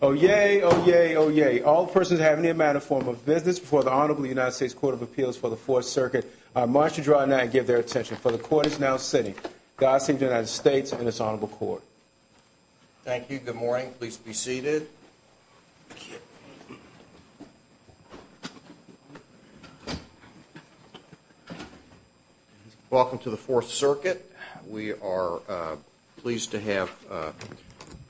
Oh yay, oh yay, oh yay. All persons have any amount of form of business before the Honorable United States Court of Appeals for the Fourth Circuit, I march you dry now and give their attention, for the court is now sitting. God save the United States and its Honorable Court. Thank you. Good morning. Please be seated. Welcome to the Fourth Circuit. We are pleased to have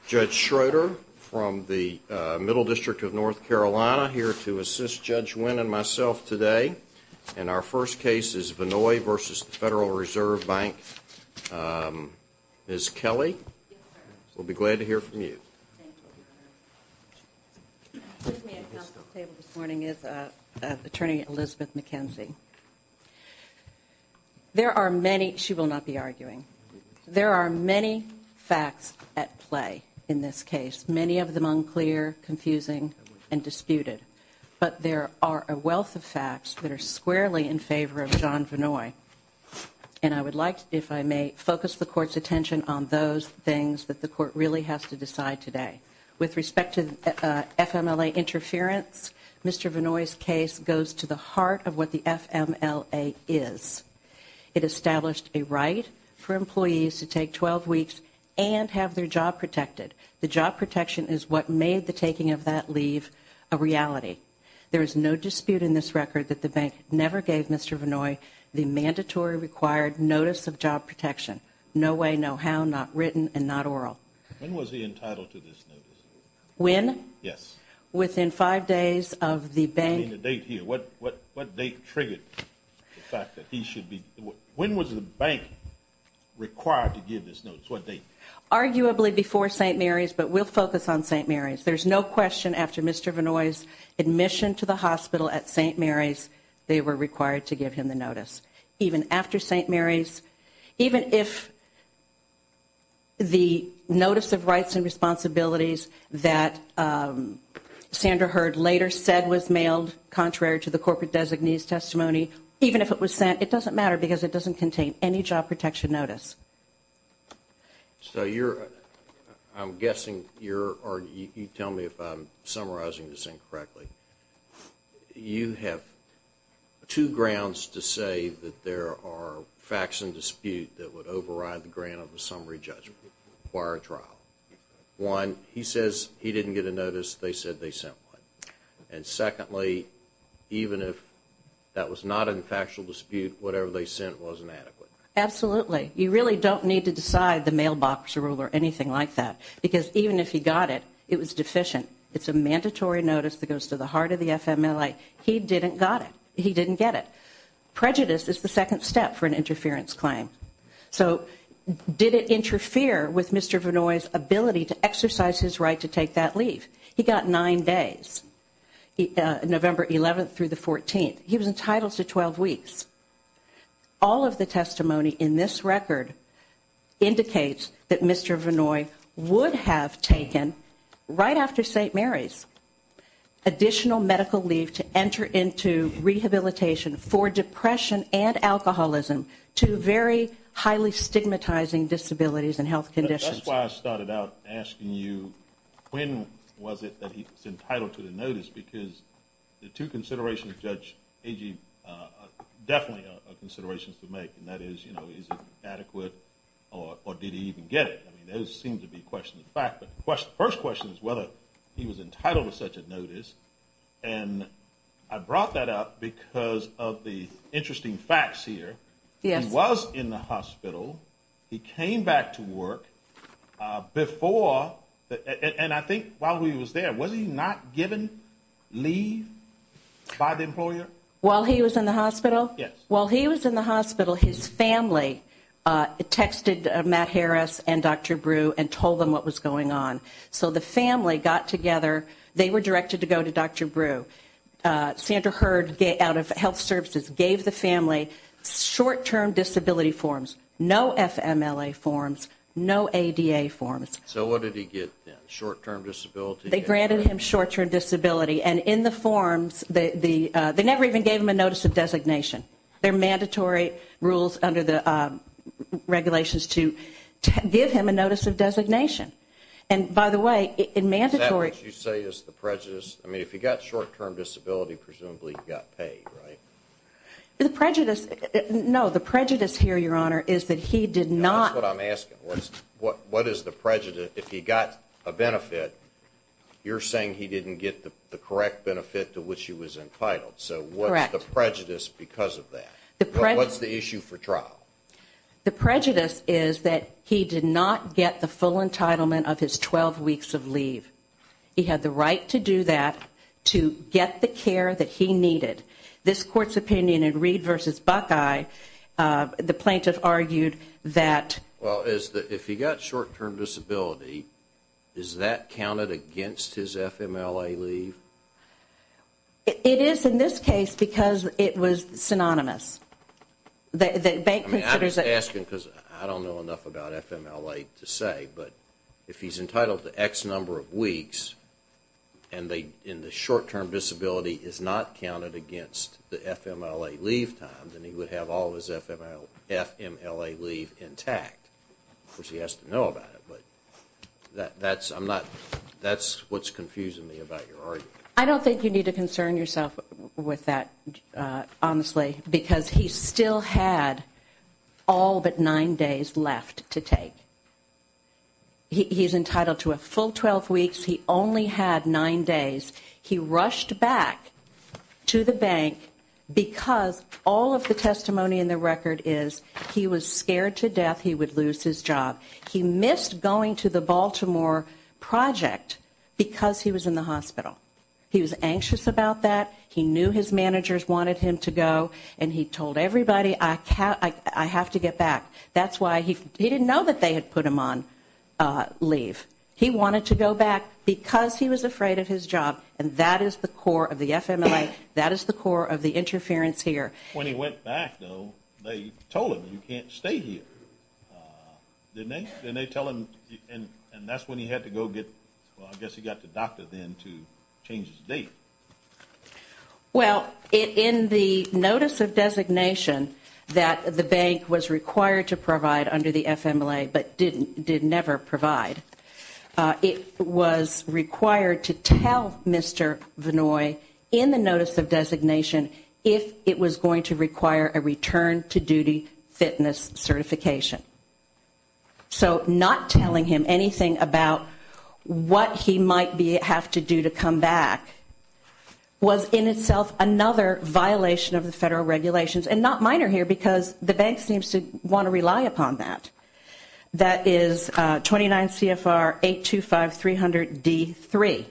Judge Schroeder from the Middle District of North Carolina here to assist Judge Wynn and myself today. And our first case is Vannoy v. Federal Reserve Bank. Ms. Kelly? Yes, sir. We'll be glad to hear from you. Thank you. With me at counsel's table this morning is Attorney Elizabeth McKenzie. There are many, she will not be arguing, there are many facts at play in this case, many of them unclear, confusing, and disputed. But there are a wealth of facts that are squarely in favor of John Vannoy. And I would like, if I may, focus the court's attention on those things that the court really has to decide today. With respect to FMLA interference, Mr. Vannoy's case goes to the heart of what the FMLA is. It established a right for employees to take 12 weeks and have their job protected. The job protection is what made the taking of that leave a reality. There is no dispute in this record that the bank never gave Mr. Vannoy the mandatory required notice of job protection. No way, no how, not written, and not oral. When was he entitled to this notice? When? Yes. Within five days of the bank. I mean the date here, what date triggered the fact that he should be, when was the bank required to give this notice, what date? Notice of rights and responsibilities that Sandra Heard later said was mailed contrary to the corporate designee's testimony, even if it was sent, it doesn't matter because it doesn't contain any job protection notice. So you're, I'm guessing you're, or you tell me if I'm summarizing this incorrectly. You have two grounds to say that there are facts in dispute that would override the grant of a summary judgment, require a trial. One, he says he didn't get a notice, they said they sent one. And secondly, even if that was not in factual dispute, whatever they sent wasn't adequate. Absolutely. You really don't need to decide the mailbox rule or anything like that because even if he got it, it was deficient. It's a mandatory notice that goes to the heart of the FMLA. He didn't got it. He didn't get it. Prejudice is the second step for an interference claim. So did it interfere with Mr. Vannoy's ability to exercise his right to take that leave? He got nine days, November 11th through the 14th. He was entitled to 12 weeks. All of the testimony in this record indicates that Mr. Vannoy would have taken, right after St. Mary's, additional medical leave to enter into rehabilitation for depression and alcoholism to very, very early on in his career. He had two highly stigmatizing disabilities and health conditions. That's why I started out asking you when was it that he was entitled to the notice because the two considerations Judge Agee definitely are considerations to make and that is, you know, is it adequate or did he even get it? I mean, those seem to be questions of fact, but the first question is whether he was entitled to such a notice. And I brought that up because of the interesting facts here. He was in the hospital. He came back to work before, and I think while he was there, was he not given leave by the employer? While he was in the hospital? While he was in the hospital, his family texted Matt Harris and Dr. Brew and told them what was going on. So the family got together. They were directed to go to Dr. Brew. Sandra Heard, out of health services, gave the family short-term disability forms. No FMLA forms. No ADA forms. So what did he get then? Short-term disability? They granted him short-term disability. And in the forms, they never even gave him a notice of designation. They're mandatory rules under the regulations to give him a notice of designation. And by the way, in mandatory… Is that what you say is the prejudice? I mean, if he got short-term disability, presumably he got paid, right? The prejudice, no, the prejudice here, Your Honor, is that he did not… What is the prejudice? If he got a benefit, you're saying he didn't get the correct benefit to which he was entitled. So what's the prejudice because of that? What's the issue for trial? The prejudice is that he did not get the full entitlement of his 12 weeks of leave. He had the right to do that to get the care that he needed. This Court's opinion in Reed v. Buckeye, the plaintiff argued that… Well, if he got short-term disability, is that counted against his FMLA leave? It is in this case because it was synonymous. The bank considers it… I'm asking because I don't know enough about FMLA to say, but if he's entitled to X number of weeks and the short-term disability is not counted against the FMLA leave time, then he would have all of his FMLA leave intact. Of course, he has to know about it, but that's what's confusing me about your argument. I don't think you need to concern yourself with that, honestly, because he still had all but nine days left to take. He's entitled to a full 12 weeks. He only had nine days. He rushed back to the bank because all of the testimony in the record is he was scared to death he would lose his job. He missed going to the Baltimore project because he was in the hospital. He was anxious about that. He knew his managers wanted him to go, and he told everybody, I have to get back. That's why he didn't know that they had put him on leave. He wanted to go back because he was afraid of his job, and that is the core of the FMLA. That is the core of the interference here. When he went back, though, they told him, you can't stay here. Didn't they? Didn't they tell him, and that's when he had to go get, well, I guess he got to the doctor then to change his date. Well, in the notice of designation that the bank was required to provide under the FMLA but did never provide, it was required to tell Mr. Vinoy in the notice of designation if it was going to require a return to duty fitness certification. So not telling him anything about what he might have to do to come back was in itself another violation of the federal regulations, and not minor here because the bank seems to want to rely upon that. That is 29 CFR 825-300-D3.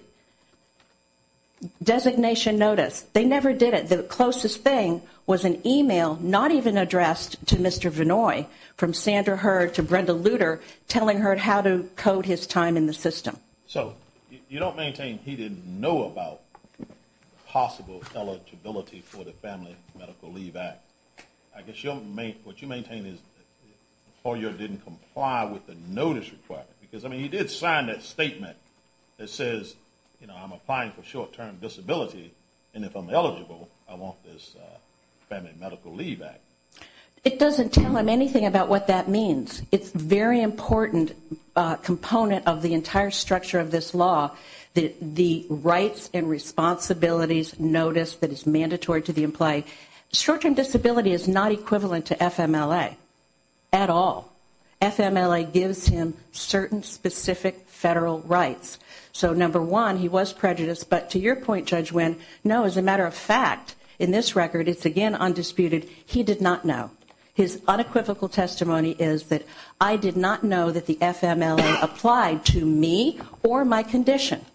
Designation notice. They never did it. The closest thing was an email not even addressed to Mr. Vinoy from Sandra Heard to Brenda Lutter telling her how to code his time in the system. So you don't maintain he didn't know about possible eligibility for the Family Medical Leave Act. I guess what you maintain is the employer didn't comply with the notice requirement because, I mean, he did sign that statement that says, you know, I'm applying for short-term disability, and if I'm eligible, I want this Family Medical Leave Act. It doesn't tell him anything about what that means. It's a very important component of the entire structure of this law, the rights and responsibilities notice that is mandatory to the employee. Short-term disability is not equivalent to FMLA at all. FMLA gives him certain specific federal rights. So, number one, he was prejudiced, but to your point, Judge Winn, no, as a matter of fact, in this record, it's again undisputed, he did not know. His unequivocal testimony is that I did not know that the FMLA applied to me or my condition.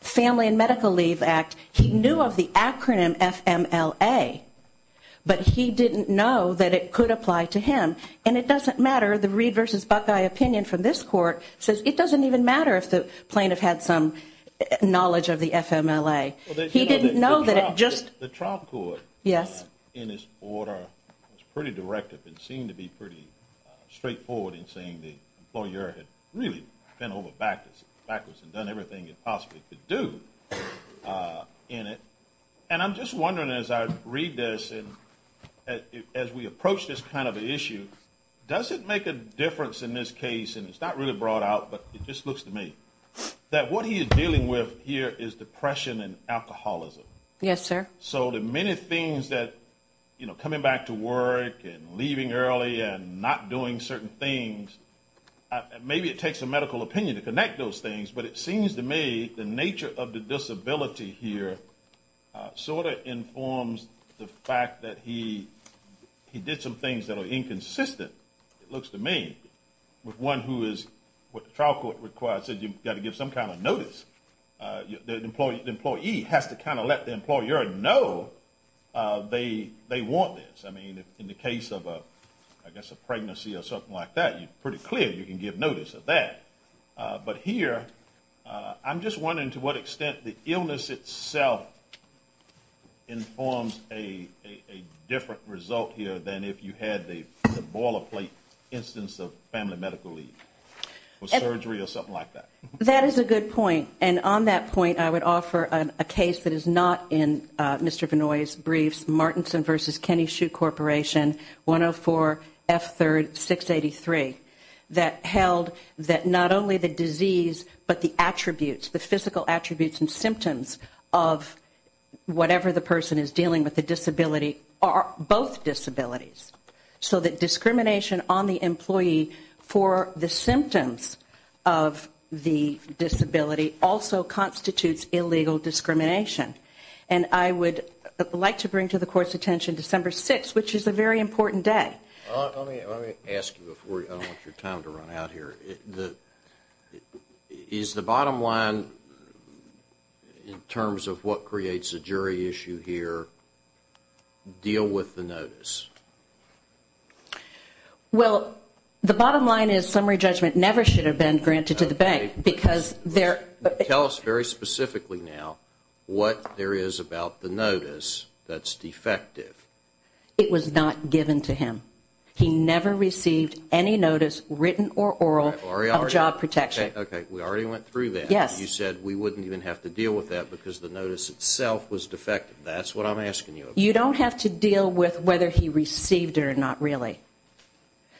Family and Medical Leave Act, he knew of the acronym FMLA, but he didn't know that it could apply to him. And it doesn't matter, the Reid v. Buckeye opinion from this court says it doesn't even matter if the plaintiff had some knowledge of the FMLA. He didn't know that it just. The trial court, in its order, was pretty directive and seemed to be pretty straightforward in saying the employer had really bent over backwards and done everything it possibly could do in it. And I'm just wondering as I read this and as we approach this kind of an issue, does it make a difference in this case, and it's not really brought out, but it just looks to me, that what he is dealing with here is depression and alcoholism? Yes, sir. So the many things that, you know, coming back to work and leaving early and not doing certain things, maybe it takes a medical opinion to connect those things, but it seems to me the nature of the disability here sort of informs the fact that he did some things that are inconsistent, it looks to me. With one who is, what the trial court requires is you've got to give some kind of notice. The employee has to kind of let the employer know they want this. I mean, in the case of a pregnancy or something like that, it's pretty clear you can give notice of that. But here, I'm just wondering to what extent the illness itself informs a different result here than if you had the boilerplate instance of family medical leave or surgery or something like that. And on that point, I would offer a case that is not in Mr. Vannoy's briefs, Martinson v. Kenny Shue Corporation, 104F3-683, that held that not only the disease, but the attributes, the physical attributes and symptoms of whatever the person is dealing with the disability are both disabilities. So that discrimination on the employee for the symptoms of the disability also constitutes illegal discrimination. And I would like to bring to the Court's attention December 6th, which is a very important day. Let me ask you before I don't want your time to run out here. Is the bottom line in terms of what creates a jury issue here deal with the notice? Well, the bottom line is summary judgment never should have been granted to the bank. Tell us very specifically now what there is about the notice that's defective. It was not given to him. He never received any notice, written or oral, of job protection. Okay, we already went through that. Yes. You said we wouldn't even have to deal with that because the notice itself was defective. That's what I'm asking you about. You don't have to deal with whether he received it or not really.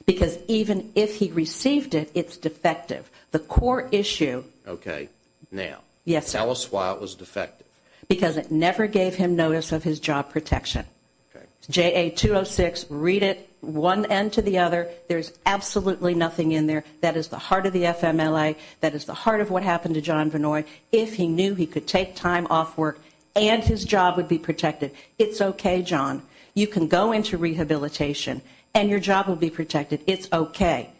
Because even if he received it, it's defective. The core issue Okay, now. Yes, sir. Tell us why it was defective. Because it never gave him notice of his job protection. Okay. JA-206, read it one end to the other. There's absolutely nothing in there. That is the heart of the FMLA. That is the heart of what happened to John Vannoy. If he knew he could take time off work and his job would be protected, it's okay, John. You can go into rehabilitation and your job will be protected. It's okay.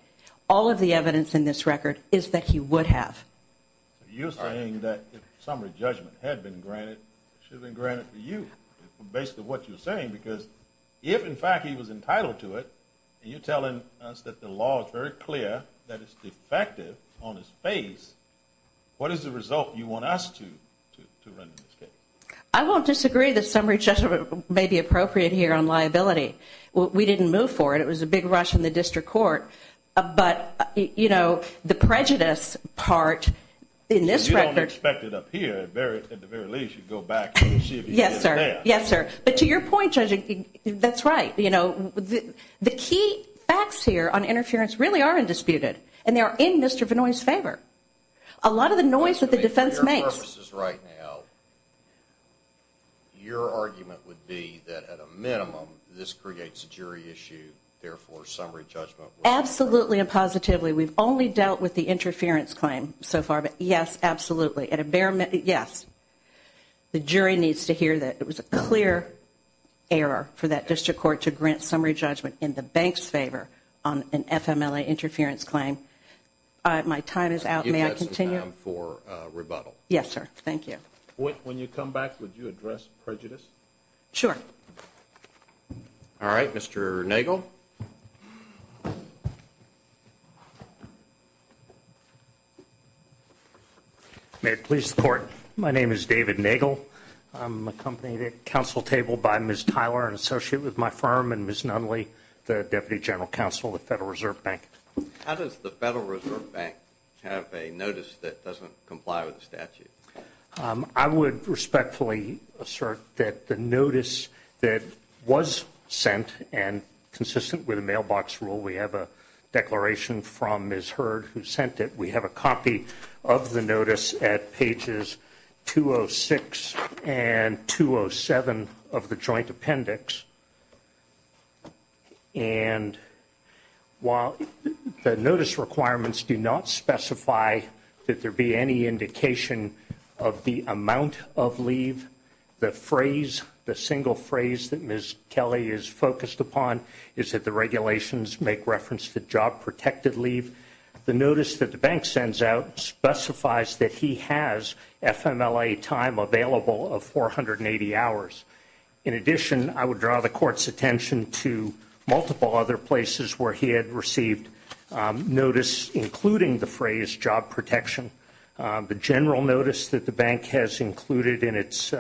All of the evidence in this record is that he would have. You're saying that if summary judgment had been granted, it should have been granted for you, based on what you're saying. Because if in fact he was entitled to it, and you're telling us that the law is very clear that it's defective on his face, what is the result you want us to run in this case? I won't disagree that summary judgment may be appropriate here on liability. We didn't move for it. It was a big rush in the district court. But the prejudice part in this record. You don't expect it up here. At the very least, you'd go back and see if he did that. Yes, sir. But to your point, Judge, that's right. The key facts here on interference really are undisputed. And they are in Mr. Vannoy's favor. A lot of the noise that the defense makes. Your argument would be that at a minimum, this creates a jury issue. Therefore, summary judgment. Absolutely and positively. We've only dealt with the interference claim so far. But yes, absolutely. At a bare minimum, yes. The jury needs to hear that it was a clear error for that district court to grant summary judgment in the bank's favor on an FMLA interference claim. My time is out. May I continue? I am for rebuttal. Yes, sir. Thank you. When you come back, would you address prejudice? All right. Mr. Nagel. May it please the Court. My name is David Nagel. I'm accompanied at the council table by Ms. Tyler, an associate with my firm, and Ms. Nunley, the deputy general counsel of the Federal Reserve Bank. How does the Federal Reserve Bank have a notice that doesn't comply with the statute? I would respectfully assert that the notice that was sent and consistent with the mailbox rule, we have a declaration from Ms. Hurd who sent it. We have a copy of the notice at pages 206 and 207 of the joint appendix. And while the notice requirements do not specify that there be any indication of the amount of leave, the phrase, the single phrase that Ms. Kelly is focused upon is that the regulations make reference to job-protected leave. The notice that the bank sends out specifies that he has FMLA time available of 480 hours. In addition, I would draw the Court's attention to multiple other places where he had received notice, including the phrase job protection. The general notice that the bank has included in its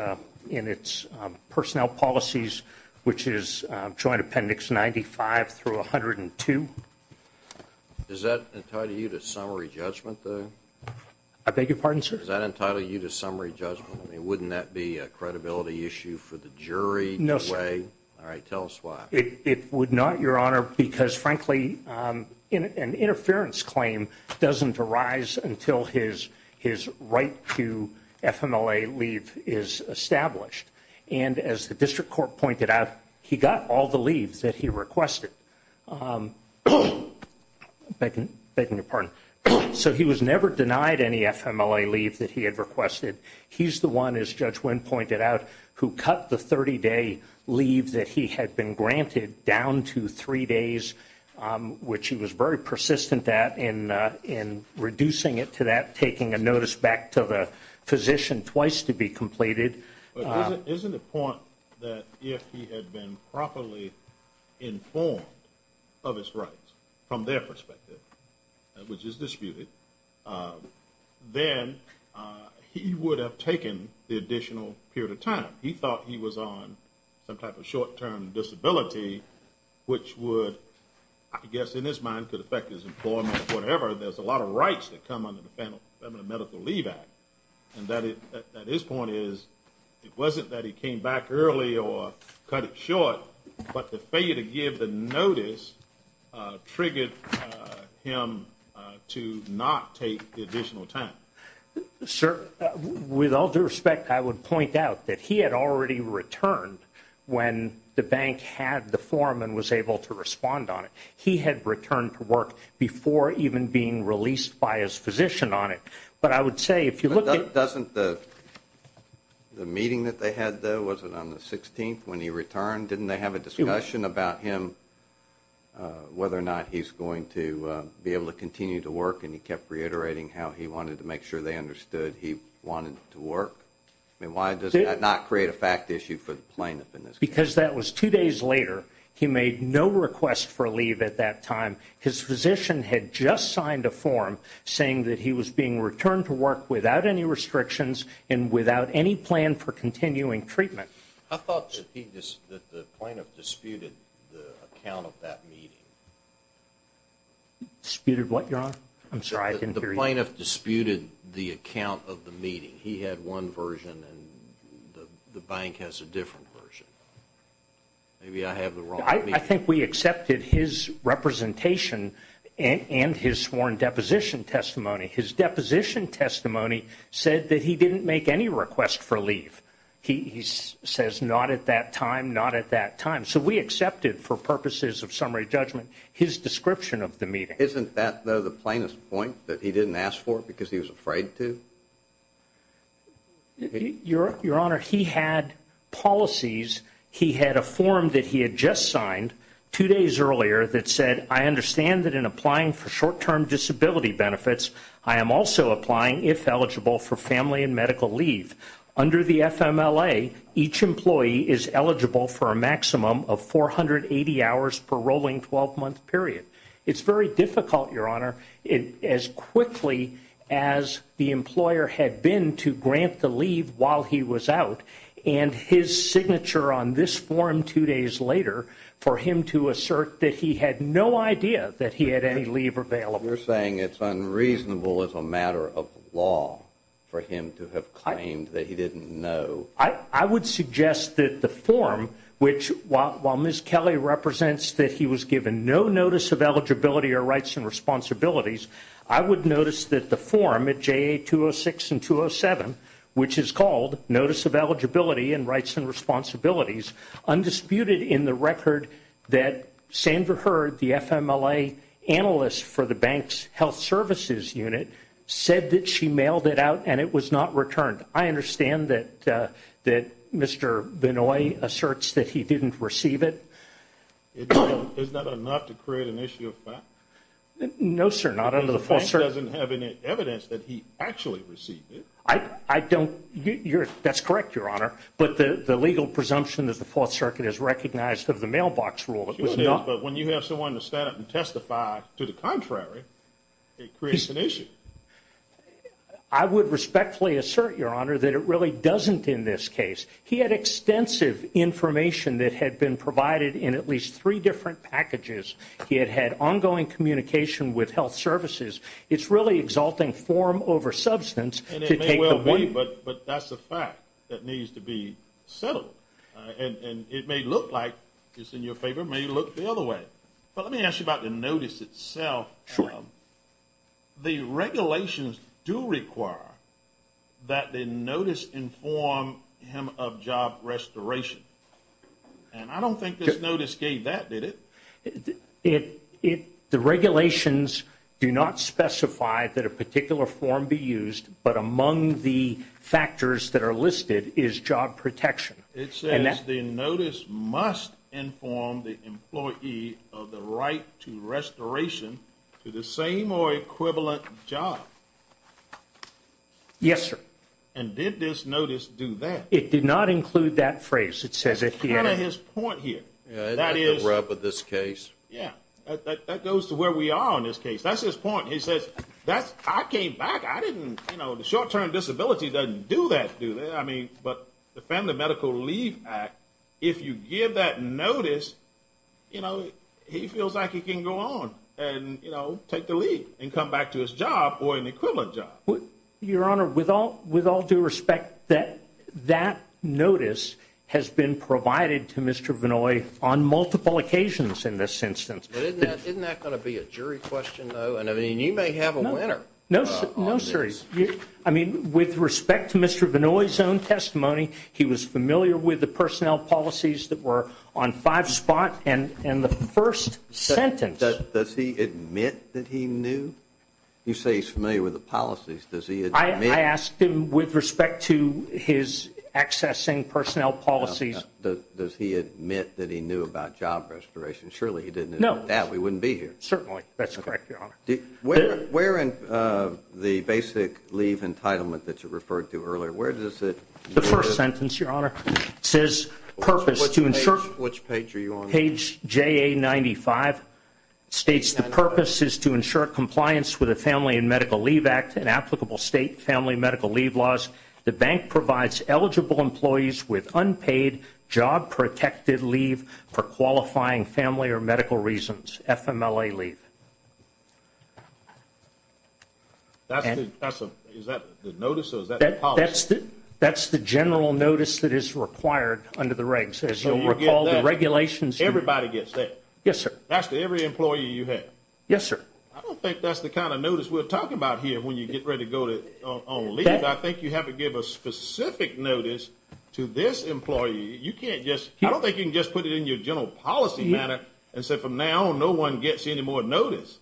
personnel policies, which is joint appendix 95 through 102. Does that entitle you to summary judgment? I beg your pardon, sir? Does that entitle you to summary judgment? I mean, wouldn't that be a credibility issue for the jury? No, sir. All right, tell us why. It would not, Your Honor, because frankly, an interference claim doesn't arise until his right to FMLA leave is established. And as the District Court pointed out, he got all the leaves that he requested. I'm begging your pardon. So he was never denied any FMLA leave that he had requested. He's the one, as Judge Wynn pointed out, who cut the 30-day leave that he had been granted down to three days, which he was very persistent at in reducing it to that, taking a notice back to the physician twice to be completed. But isn't it the point that if he had been properly informed of his rights from their perspective, which is disputed, then he would have taken the additional period of time. He thought he was on some type of short-term disability, which would, I guess in his mind, could affect his employment or whatever. There's a lot of rights that come under the Feminine Medical Leave Act. And his point is it wasn't that he came back early or cut it short, but the failure to give the notice triggered him to not take the additional time. Sir, with all due respect, I would point out that he had already returned when the bank had the form and was able to respond on it. He had returned to work before even being released by his physician on it. But I would say if you look at – Doesn't the meeting that they had, though, was it on the 16th when he returned? Didn't they have a discussion about him, whether or not he's going to be able to continue to work? And he kept reiterating how he wanted to make sure they understood he wanted to work. I mean, why does that not create a fact issue for the plaintiff in this case? Because that was two days later. He made no request for leave at that time. His physician had just signed a form saying that he was being returned to work without any restrictions and without any plan for continuing treatment. I thought that the plaintiff disputed the account of that meeting. Disputed what, Your Honor? I'm sorry, I didn't hear you. The plaintiff disputed the account of the meeting. He had one version and the bank has a different version. Maybe I have the wrong – I think we accepted his representation and his sworn deposition testimony. His deposition testimony said that he didn't make any request for leave. He says not at that time, not at that time. So we accepted, for purposes of summary judgment, his description of the meeting. Isn't that, though, the plaintiff's point that he didn't ask for it because he was afraid to? Your Honor, he had policies. He had a form that he had just signed two days earlier that said, I understand that in applying for short-term disability benefits, I am also applying, if eligible, for family and medical leave. Under the FMLA, each employee is eligible for a maximum of 480 hours per rolling 12-month period. It's very difficult, Your Honor, as quickly as the employer had been to grant the leave while he was out, and his signature on this form two days later for him to assert that he had no idea that he had any leave available. You're saying it's unreasonable as a matter of law for him to have claimed that he didn't know. I would suggest that the form, which while Ms. Kelly represents that he was given no notice of eligibility or rights and responsibilities, I would notice that the form at JA 206 and 207, which is called Notice of Eligibility and Rights and Responsibilities, undisputed in the record that Sandra Heard, the FMLA analyst for the bank's health services unit, said that she mailed it out and it was not returned. I understand that Mr. Benoit asserts that he didn't receive it. Is that enough to create an issue of fact? No, sir, not under the Fourth Circuit. The bank doesn't have any evidence that he actually received it. That's correct, Your Honor, but the legal presumption of the Fourth Circuit is recognized of the mailbox rule. It was not. But when you have someone to stand up and testify to the contrary, it creates an issue. I would respectfully assert, Your Honor, that it really doesn't in this case. He had extensive information that had been provided in at least three different packages. He had had ongoing communication with health services. It's really exalting form over substance to take the weight. But that's a fact that needs to be settled, and it may look like it's in your favor, may look the other way. But let me ask you about the notice itself. The regulations do require that the notice inform him of job restoration. And I don't think this notice gave that, did it? The regulations do not specify that a particular form be used, but among the factors that are listed is job protection. It says the notice must inform the employee of the right to restoration to the same or equivalent job. Yes, sir. And did this notice do that? It did not include that phrase. That's kind of his point here. That is the rub of this case. Yeah, that goes to where we are on this case. That's his point. He says, I came back. I didn't, you know, the short-term disability doesn't do that. I mean, but the Family Medical Leave Act, if you give that notice, you know, he feels like he can go on and, you know, take the leave and come back to his job or an equivalent job. Your Honor, with all due respect, that notice has been provided to Mr. Vinoy on multiple occasions in this instance. Isn't that going to be a jury question, though? And, I mean, you may have a winner. No, sir. I mean, with respect to Mr. Vinoy's own testimony, he was familiar with the personnel policies that were on five spot in the first sentence. Does he admit that he knew? You say he's familiar with the policies. Does he admit? I asked him with respect to his accessing personnel policies. Does he admit that he knew about job restoration? Surely he didn't admit that. We wouldn't be here. Certainly. That's correct, Your Honor. Where in the basic leave entitlement that you referred to earlier, where does it? The first sentence, Your Honor, says purpose to ensure. Which page are you on? Page JA95 states the purpose is to ensure compliance with the Family and Medical Leave Act and applicable state family medical leave laws. The bank provides eligible employees with unpaid job protected leave for qualifying family or medical reasons, FMLA leave. Is that the notice or is that the policy? That's the general notice that is required under the regs. As you'll recall, the regulations. Everybody gets that? Yes, sir. That's to every employee you have? Yes, sir. I don't think that's the kind of notice we're talking about here when you get ready to go on leave. I think you have to give a specific notice to this employee. I don't think you can just put it in your general policy manner and say from now on no one gets any more notice.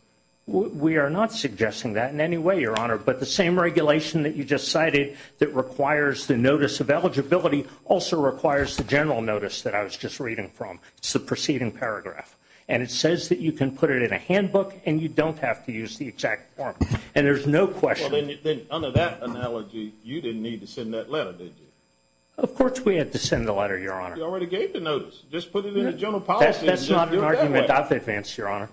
We are not suggesting that in any way, Your Honor. But the same regulation that you just cited that requires the notice of eligibility also requires the general notice that I was just reading from. It's the preceding paragraph. And it says that you can put it in a handbook and you don't have to use the exact form. And there's no question. Well, then under that analogy, you didn't need to send that letter, did you? Of course we had to send the letter, Your Honor. You already gave the notice. Just put it in the general policy. That's not an argument I've advanced, Your Honor.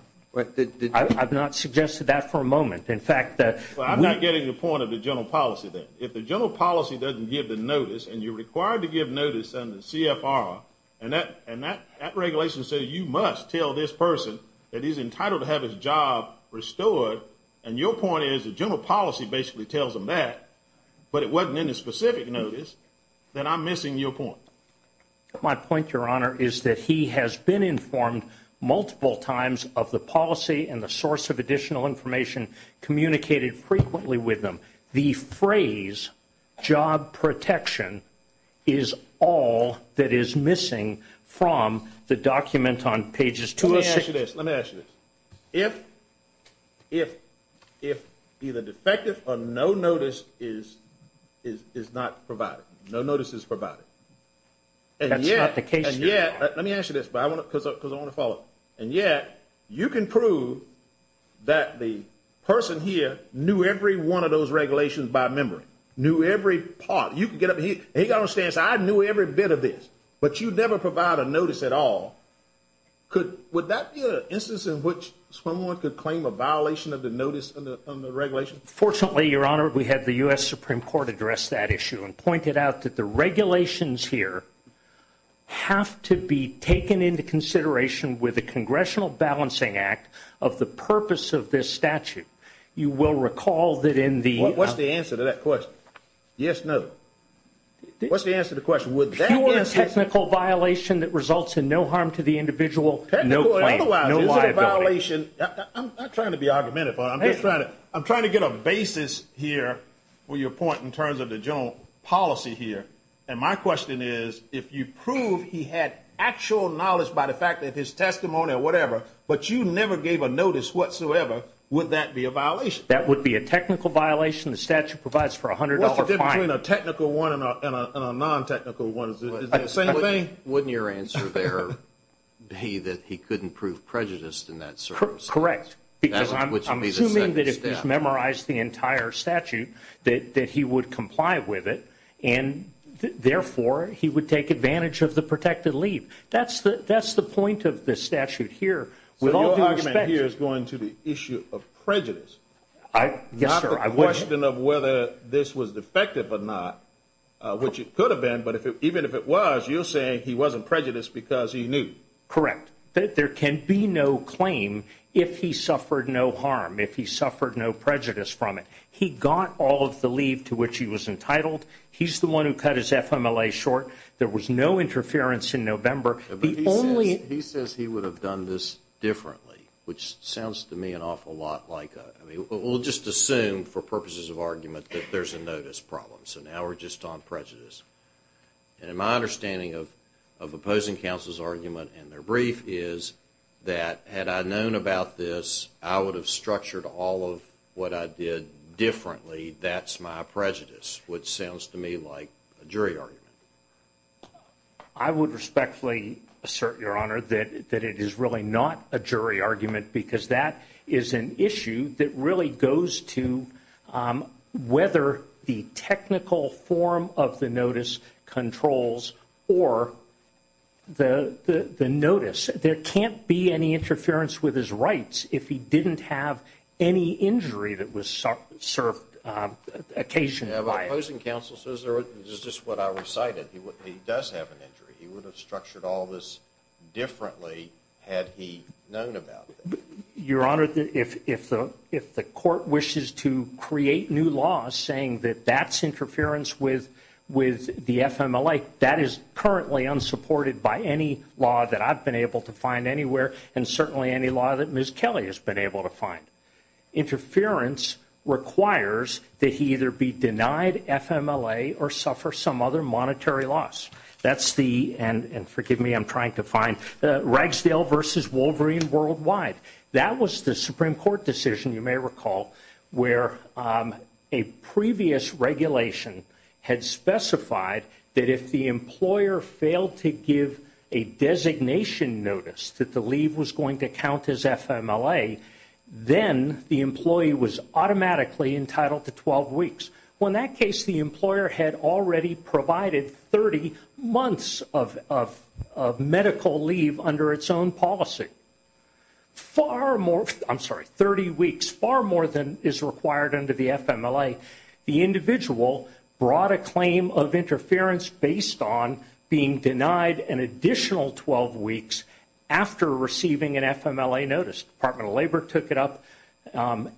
I've not suggested that for a moment. In fact, the – Well, I'm not getting the point of the general policy then. If the general policy doesn't give the notice and you're required to give notice under CFR, and that regulation says you must tell this person that he's entitled to have his job restored, and your point is the general policy basically tells them that, but it wasn't in the specific notice, then I'm missing your point. My point, Your Honor, is that he has been informed multiple times of the policy and the source of additional information communicated frequently with him. The phrase job protection is all that is missing from the document on pages 266. Let me ask you this. Let me ask you this. If either defective or no notice is not provided, no notice is provided, and yet – That's not the case, Your Honor. Let me ask you this because I want to follow up. And yet you can prove that the person here knew every one of those regulations by memory, knew every part. You can get up here. He got on the stand and said, I knew every bit of this. But you never provide a notice at all. Would that be an instance in which someone could claim a violation of the notice on the regulation? Fortunately, Your Honor, we had the U.S. Supreme Court address that issue and pointed out that the regulations here have to be taken into consideration with the Congressional Balancing Act of the purpose of this statute. You will recall that in the – What's the answer to that question? Yes, no. What's the answer to the question? Would that be a technical violation that results in no harm to the individual? No claim. Otherwise, is it a violation – I'm not trying to be argumentative. I'm just trying to – I'm trying to get a basis here for your point in terms of the general policy here. And my question is, if you prove he had actual knowledge by the fact that his testimony or whatever, but you never gave a notice whatsoever, would that be a violation? That would be a technical violation the statute provides for a $100 fine. Between a technical one and a non-technical one, is it the same thing? Wouldn't your answer there be that he couldn't prove prejudiced in that sort of sense? Correct. Because I'm assuming that if he's memorized the entire statute that he would comply with it, and therefore he would take advantage of the protected leave. That's the point of this statute here. So your argument here is going to the issue of prejudice, not the question of whether this was defective or not, which it could have been. But even if it was, you're saying he wasn't prejudiced because he knew. Correct. There can be no claim if he suffered no harm, if he suffered no prejudice from it. He got all of the leave to which he was entitled. He's the one who cut his FMLA short. There was no interference in November. He says he would have done this differently, which sounds to me an awful lot like a – we'll just assume for purposes of argument that there's a notice problem. So now we're just on prejudice. And my understanding of opposing counsel's argument in their brief is that had I known about this, I would have structured all of what I did differently. That's my prejudice, which sounds to me like a jury argument. I would respectfully assert, Your Honor, that it is really not a jury argument because that is an issue that really goes to whether the technical form of the notice controls or the notice. There can't be any interference with his rights if he didn't have any injury that was served occasionally. But opposing counsel says – this is just what I recited – he does have an injury. He would have structured all of this differently had he known about it. Your Honor, if the court wishes to create new laws saying that that's interference with the FMLA, that is currently unsupported by any law that I've been able to find anywhere and certainly any law that Ms. Kelly has been able to find. Interference requires that he either be denied FMLA or suffer some other monetary loss. That's the – and forgive me, I'm trying to find – Ragsdale v. Wolverine worldwide. That was the Supreme Court decision, you may recall, where a previous regulation had specified that if the employer failed to give a designation notice that the leave was going to count as FMLA, then the employee was automatically entitled to 12 weeks. Well, in that case, the employer had already provided 30 months of medical leave under its own policy. Far more – I'm sorry, 30 weeks. Far more than is required under the FMLA. The individual brought a claim of interference based on being denied an additional 12 weeks after receiving an FMLA notice. Department of Labor took it up,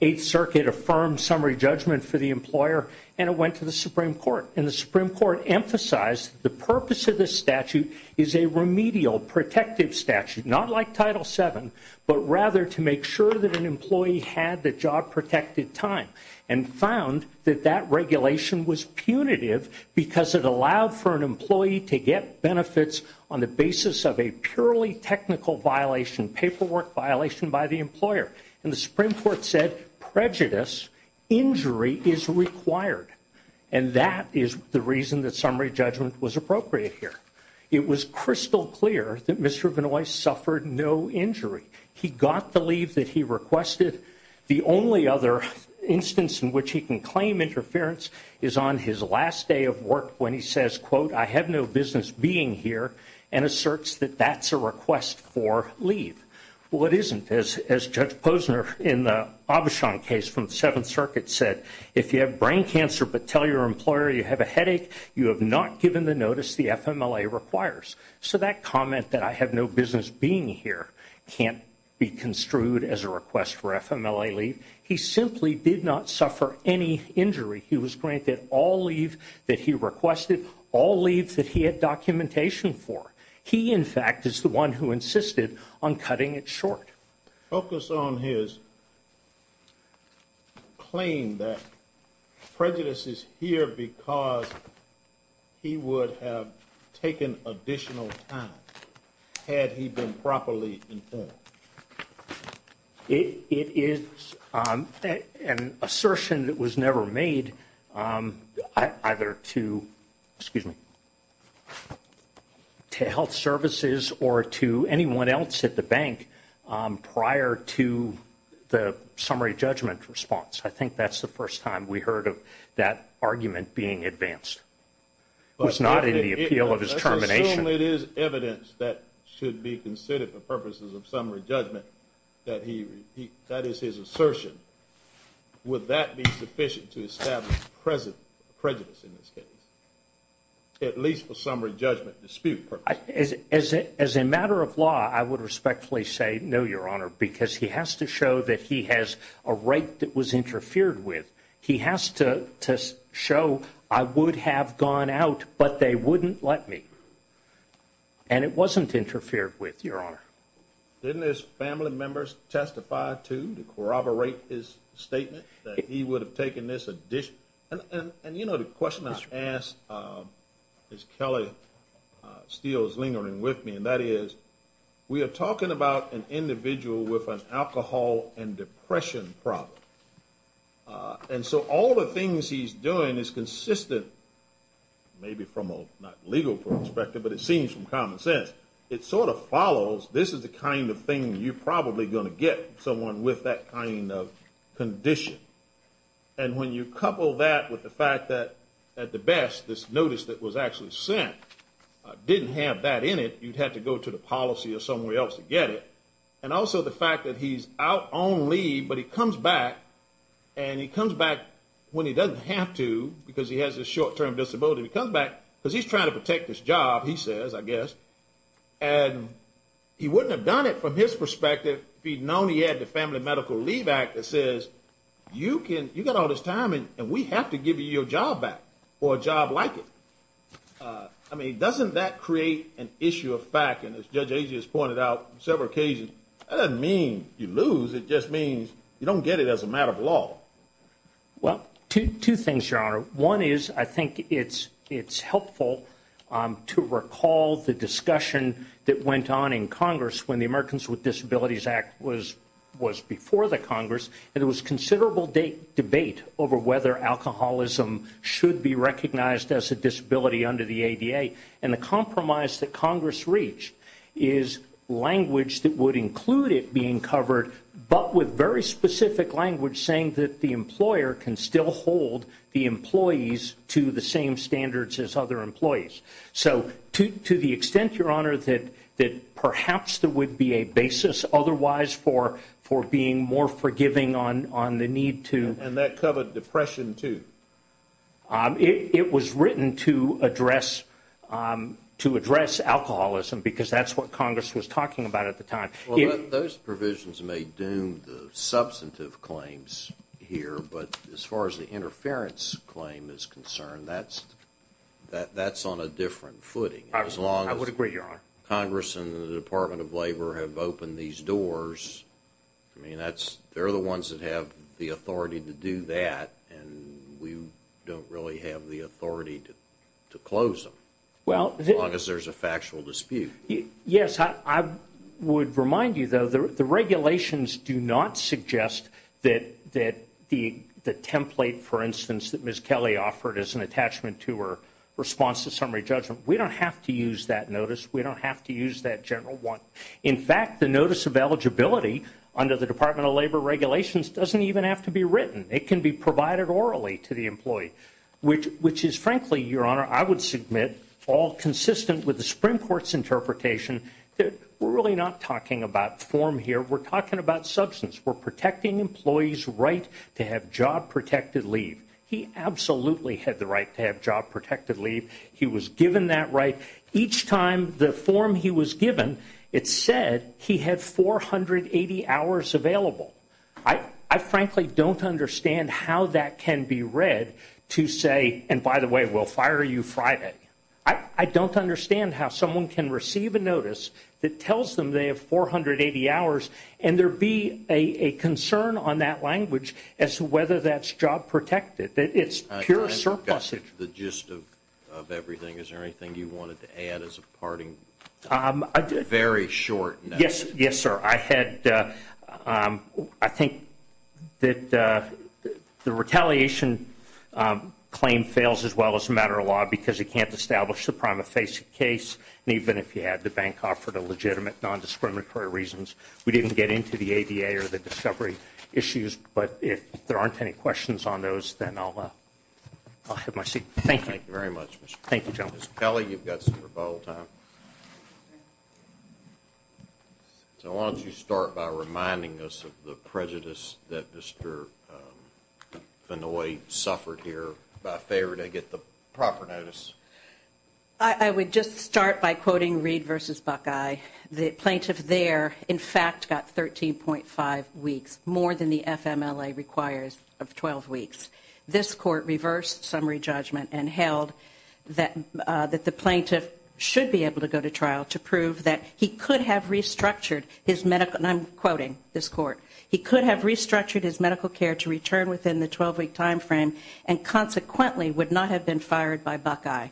Eighth Circuit affirmed summary judgment for the employer, and it went to the Supreme Court. And the Supreme Court emphasized the purpose of this statute is a remedial protective statute, not like Title VII, but rather to make sure that an employee had the job-protected time and found that that regulation was punitive because it allowed for an employee to get benefits on the basis of a purely technical violation, paperwork violation by the employer. And the Supreme Court said prejudice, injury is required. And that is the reason that summary judgment was appropriate here. It was crystal clear that Mr. Benoist suffered no injury. He got the leave that he requested. The only other instance in which he can claim interference is on his last day of work when he says, quote, I have no business being here, and asserts that that's a request for leave. Well, it isn't. As Judge Posner in the Aubuchon case from the Seventh Circuit said, if you have brain cancer but tell your employer you have a headache, you have not given the notice the FMLA requires. So that comment that I have no business being here can't be construed as a request for FMLA leave. He simply did not suffer any injury. He was granted all leave that he requested, all leaves that he had documentation for. He, in fact, is the one who insisted on cutting it short. Focus on his claim that prejudice is here because he would have taken additional time had he been properly informed. It is an assertion that was never made either to health services or to anyone else at the bank prior to the summary judgment response. I think that's the first time we heard of that argument being advanced. It was not in the appeal of his termination. Assuming it is evidence that should be considered for purposes of summary judgment, that is his assertion, would that be sufficient to establish prejudice in this case, at least for summary judgment dispute purposes? As a matter of law, I would respectfully say no, Your Honor, because he has to show that he has a right that was interfered with. He has to show, I would have gone out, but they wouldn't let me. And it wasn't interfered with, Your Honor. Didn't his family members testify, too, to corroborate his statement that he would have taken this addition? And, you know, the question I ask is Kelly Steele's lingering with me, and that is we are talking about an individual with an alcohol and depression problem. And so all the things he's doing is consistent, maybe from a not legal perspective, but it seems from common sense. It sort of follows this is the kind of thing you're probably going to get someone with that kind of condition. And when you couple that with the fact that, at the best, this notice that was actually sent didn't have that in it, you'd have to go to the policy or somewhere else to get it. And also the fact that he's out on leave, but he comes back, and he comes back when he doesn't have to, because he has a short-term disability. He comes back because he's trying to protect his job, he says, I guess. And he wouldn't have done it from his perspective if he'd known he had the Family Medical Leave Act that says, you got all this time, and we have to give you your job back, or a job like it. I mean, doesn't that create an issue of fact? And as Judge Azias pointed out on several occasions, that doesn't mean you lose. It just means you don't get it as a matter of law. Well, two things, Your Honor. One is I think it's helpful to recall the discussion that went on in Congress when the Americans with Disabilities Act was before the Congress, and there was considerable debate over whether alcoholism should be recognized as a disability under the ADA. And the compromise that Congress reached is language that would include it being covered, but with very specific language saying that the employer can still hold the employees to the same standards as other employees. So to the extent, Your Honor, that perhaps there would be a basis otherwise for being more forgiving on the need to. And that covered depression, too. It was written to address alcoholism because that's what Congress was talking about at the time. Well, those provisions may doom the substantive claims here, but as far as the interference claim is concerned, that's on a different footing. I would agree, Your Honor. Congress and the Department of Labor have opened these doors. I mean, they're the ones that have the authority to do that, and we don't really have the authority to close them as long as there's a factual dispute. Yes, I would remind you, though, the regulations do not suggest that the template, for instance, that Ms. Kelly offered as an attachment to her response to summary judgment, we don't have to use that notice. We don't have to use that general one. In fact, the notice of eligibility under the Department of Labor regulations doesn't even have to be written. It can be provided orally to the employee, which is frankly, Your Honor, I would submit all consistent with the Supreme Court's interpretation that we're really not talking about form here. We're talking about substance. We're protecting employees' right to have job-protected leave. He absolutely had the right to have job-protected leave. He was given that right. Each time the form he was given, it said he had 480 hours available. I frankly don't understand how that can be read to say, and by the way, we'll fire you Friday. I don't understand how someone can receive a notice that tells them they have 480 hours and there be a concern on that language as to whether that's job-protected. It's pure surplusage. The gist of everything, is there anything you wanted to add as a parting, very short notice? Yes, sir. I think that the retaliation claim fails as well as a matter of law because it can't establish the prima facie case, and even if you had to bank off for the legitimate nondiscriminatory reasons, we didn't get into the ADA or the discovery issues, but if there aren't any questions on those, then I'll have my seat. Thank you. Thank you very much, Mr. Kelly. Thank you, gentlemen. Mr. Kelly, you've got some rebuttal time. So why don't you start by reminding us of the prejudice that Mr. Fennoy suffered here by favor to get the proper notice. I would just start by quoting Reed v. Buckeye. The plaintiff there, in fact, got 13.5 weeks, more than the FMLA requires of 12 weeks. This court reversed summary judgment and held that the plaintiff should be able to go to trial to prove that he could have restructured his medical, and I'm quoting this court, he could have restructured his medical care to return within the 12-week time frame and consequently would not have been fired by Buckeye.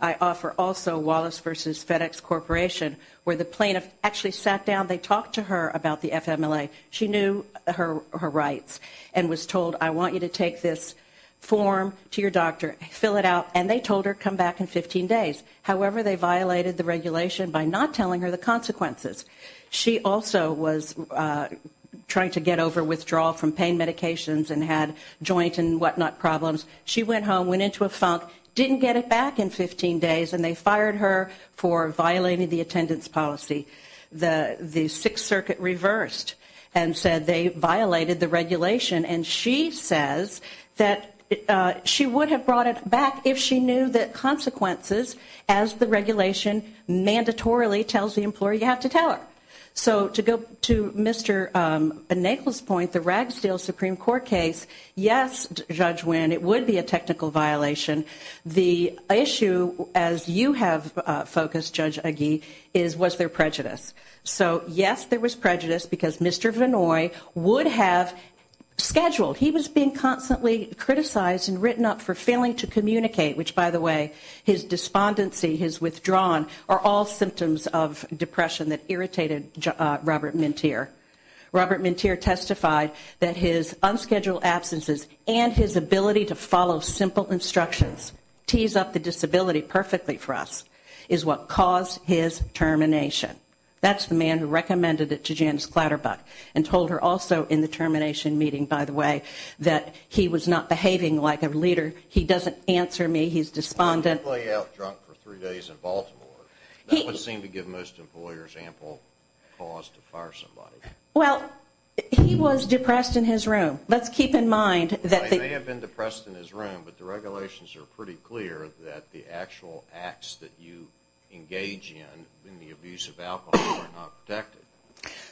I offer also Wallace v. FedEx Corporation, where the plaintiff actually sat down, they talked to her about the FMLA. She knew her rights and was told, I want you to take this form to your doctor, fill it out, and they told her come back in 15 days. However, they violated the regulation by not telling her the consequences. She also was trying to get over withdrawal from pain medications and had joint and whatnot problems. She went home, went into a funk, didn't get it back in 15 days, and they fired her for violating the attendance policy. The Sixth Circuit reversed and said they violated the regulation, and she says that she would have brought it back if she knew the consequences as the regulation mandatorily tells the employer you have to tell her. So to go to Mr. Nagle's point, the Ragsdale Supreme Court case, yes, Judge Wynn, it would be a technical violation. The issue, as you have focused, Judge Agee, was there prejudice. So yes, there was prejudice because Mr. Vinoy would have scheduled. He was being constantly criticized and written up for failing to communicate, which, by the way, his despondency, his withdrawn, are all symptoms of depression that irritated Robert Mintier. Robert Mintier testified that his unscheduled absences and his ability to follow simple instructions, tease up the disability perfectly for us, is what caused his termination. That's the man who recommended it to Janice Clatterbuck and told her also in the termination meeting, by the way, that he was not behaving like a leader, he doesn't answer me, he's despondent. He didn't play out drunk for three days in Baltimore. That would seem to give most employers ample cause to fire somebody. Well, he was depressed in his room. Let's keep in mind that the... He may have been depressed in his room, but the regulations are pretty clear that the actual acts that you engage in, in the abuse of alcohol, are not protected.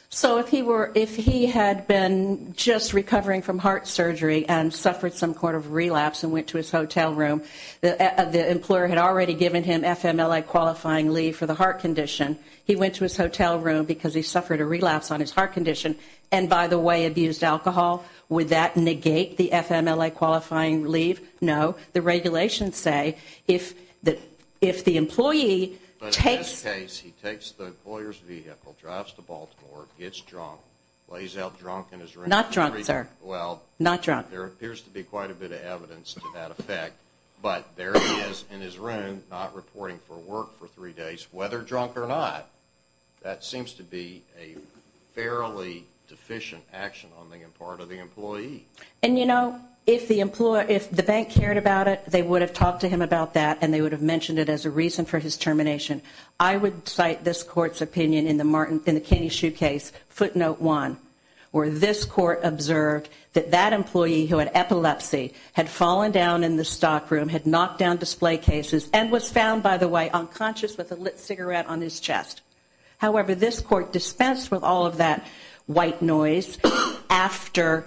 So if he had been just recovering from heart surgery and suffered some sort of relapse and went to his hotel room, the employer had already given him FMLA qualifying leave for the heart condition. He went to his hotel room because he suffered a relapse on his heart condition and, by the way, abused alcohol. Would that negate the FMLA qualifying leave? No. The regulations say if the employee takes... But in this case, he takes the employer's vehicle, drives to Baltimore, gets drunk, plays out drunk in his room... Not drunk, sir. Well... Not drunk. There appears to be quite a bit of evidence to that effect. But there he is in his room, not reporting for work for three days, whether drunk or not. That seems to be a fairly deficient action on the part of the employee. And, you know, if the bank cared about it, they would have talked to him about that, and they would have mentioned it as a reason for his termination. I would cite this Court's opinion in the Kenny Shoe case, footnote one, where this Court observed that that employee who had epilepsy had fallen down in the stock room, had knocked down display cases, and was found, by the way, unconscious with a lit cigarette on his chest. However, this Court dispensed with all of that white noise after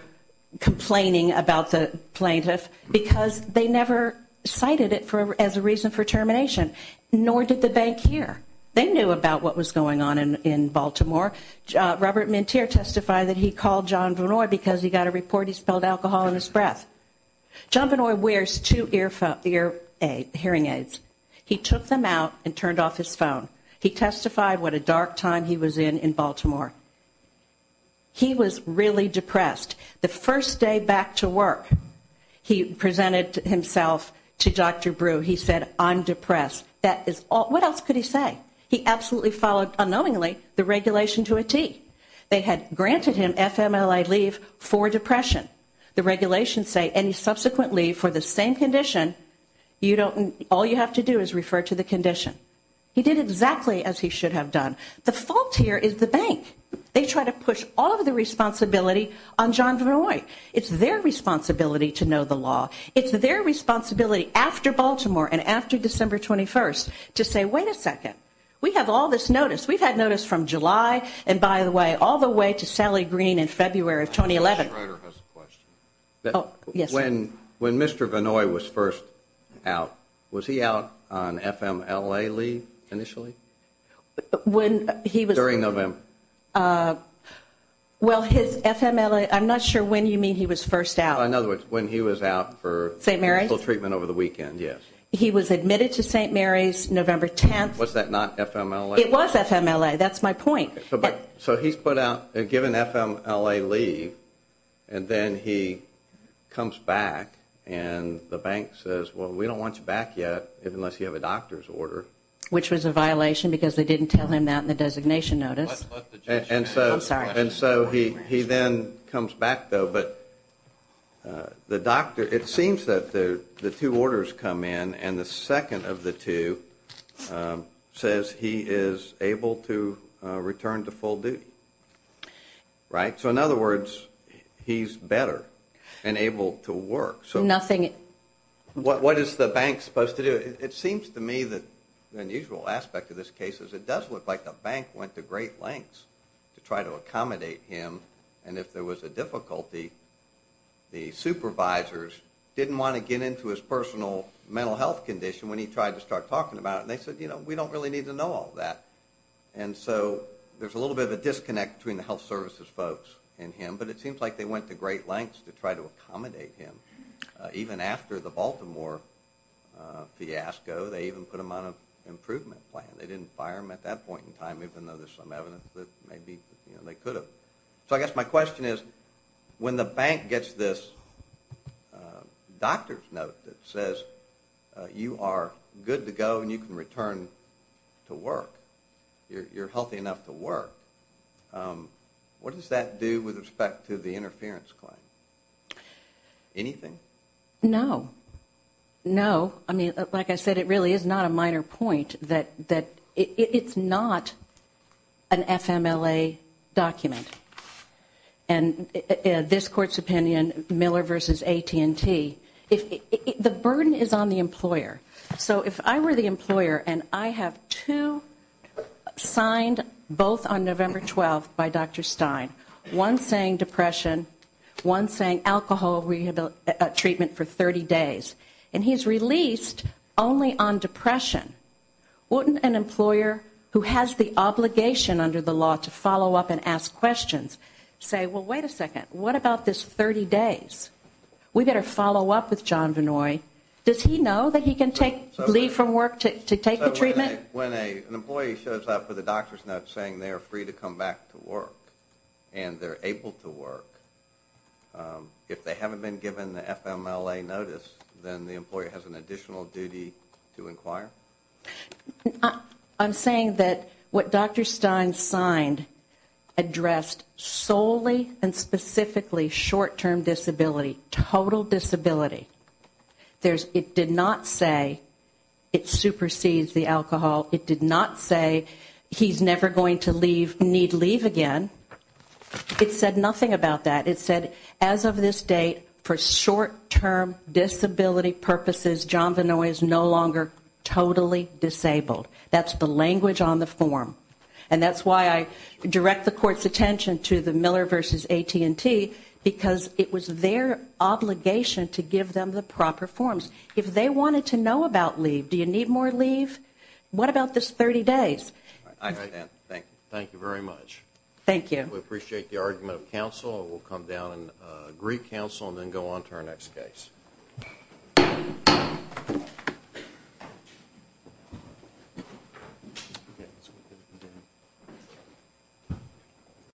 complaining about the plaintiff because they never cited it as a reason for termination, nor did the bank care. They knew about what was going on in Baltimore. Robert Mintier testified that he called John Vannoy because he got a report he spelled alcohol in his breath. John Vannoy wears two hearing aids. He took them out and turned off his phone. He testified what a dark time he was in in Baltimore. He was really depressed. The first day back to work, he presented himself to Dr. Brew. He said, I'm depressed. What else could he say? He absolutely followed unknowingly the regulation to a T. They had granted him FMLA leave for depression. The regulations say any subsequent leave for the same condition, all you have to do is refer to the condition. He did exactly as he should have done. The fault here is the bank. They try to push all of the responsibility on John Vannoy. It's their responsibility to know the law. It's their responsibility after Baltimore and after December 21st to say, wait a second. We have all this notice. We've had notice from July and, by the way, all the way to Sally Green in February of 2011. When Mr. Vannoy was first out, was he out on FMLA leave initially? During November. Well, his FMLA, I'm not sure when you mean he was first out. In other words, when he was out for treatment over the weekend, yes. He was admitted to St. Mary's November 10th. Was that not FMLA? It was FMLA. That's my point. So he's put out, given FMLA leave, and then he comes back and the bank says, well, we don't want you back yet unless you have a doctor's order. Which was a violation because they didn't tell him that in the designation notice. I'm sorry. And so he then comes back, though, but the doctor, it seems that the two orders come in and the second of the two says he is able to return to full duty. Right? So, in other words, he's better and able to work. Nothing. What is the bank supposed to do? It seems to me that the unusual aspect of this case is it does look like the bank went to great lengths to try to accommodate him. And if there was a difficulty, the supervisors didn't want to get into his personal mental health condition when he tried to start talking about it. And they said, you know, we don't really need to know all that. And so there's a little bit of a disconnect between the health services folks and him. But it seems like they went to great lengths to try to accommodate him. Even after the Baltimore fiasco, they even put him on an improvement plan. They didn't fire him at that point in time, even though there's some evidence that maybe they could have. So I guess my question is, when the bank gets this doctor's note that says you are good to go and you can return to work, you're healthy enough to work, what does that do with respect to the interference claim? Anything? No. No. I mean, like I said, it really is not a minor point that it's not an FMLA document. And this Court's opinion, Miller v. AT&T, the burden is on the employer. So if I were the employer and I have two signed both on November 12th by Dr. Stein, one saying depression, one saying alcohol treatment for 30 days, and he's released only on depression, wouldn't an employer who has the obligation under the law to follow up and ask questions say, well, wait a second, what about this 30 days? We better follow up with John Vinoy. Does he know that he can leave from work to take the treatment? So when an employee shows up with a doctor's note saying they are free to come back to work and they're able to work, if they haven't been given the FMLA notice, then the employer has an additional duty to inquire? I'm saying that what Dr. Stein signed addressed solely and specifically short-term disability, total disability. It did not say it supersedes the alcohol. It did not say he's never going to need leave again. It said nothing about that. It said as of this date, for short-term disability purposes, John Vinoy is no longer totally disabled. That's the language on the form. And that's why I direct the Court's attention to the Miller v. AT&T, because it was their obligation to give them the proper forms. If they wanted to know about leave, do you need more leave? What about this 30 days? I understand. Thank you. Thank you very much. Thank you. We appreciate the argument of counsel. We'll come down and agree counsel and then go on to our next case.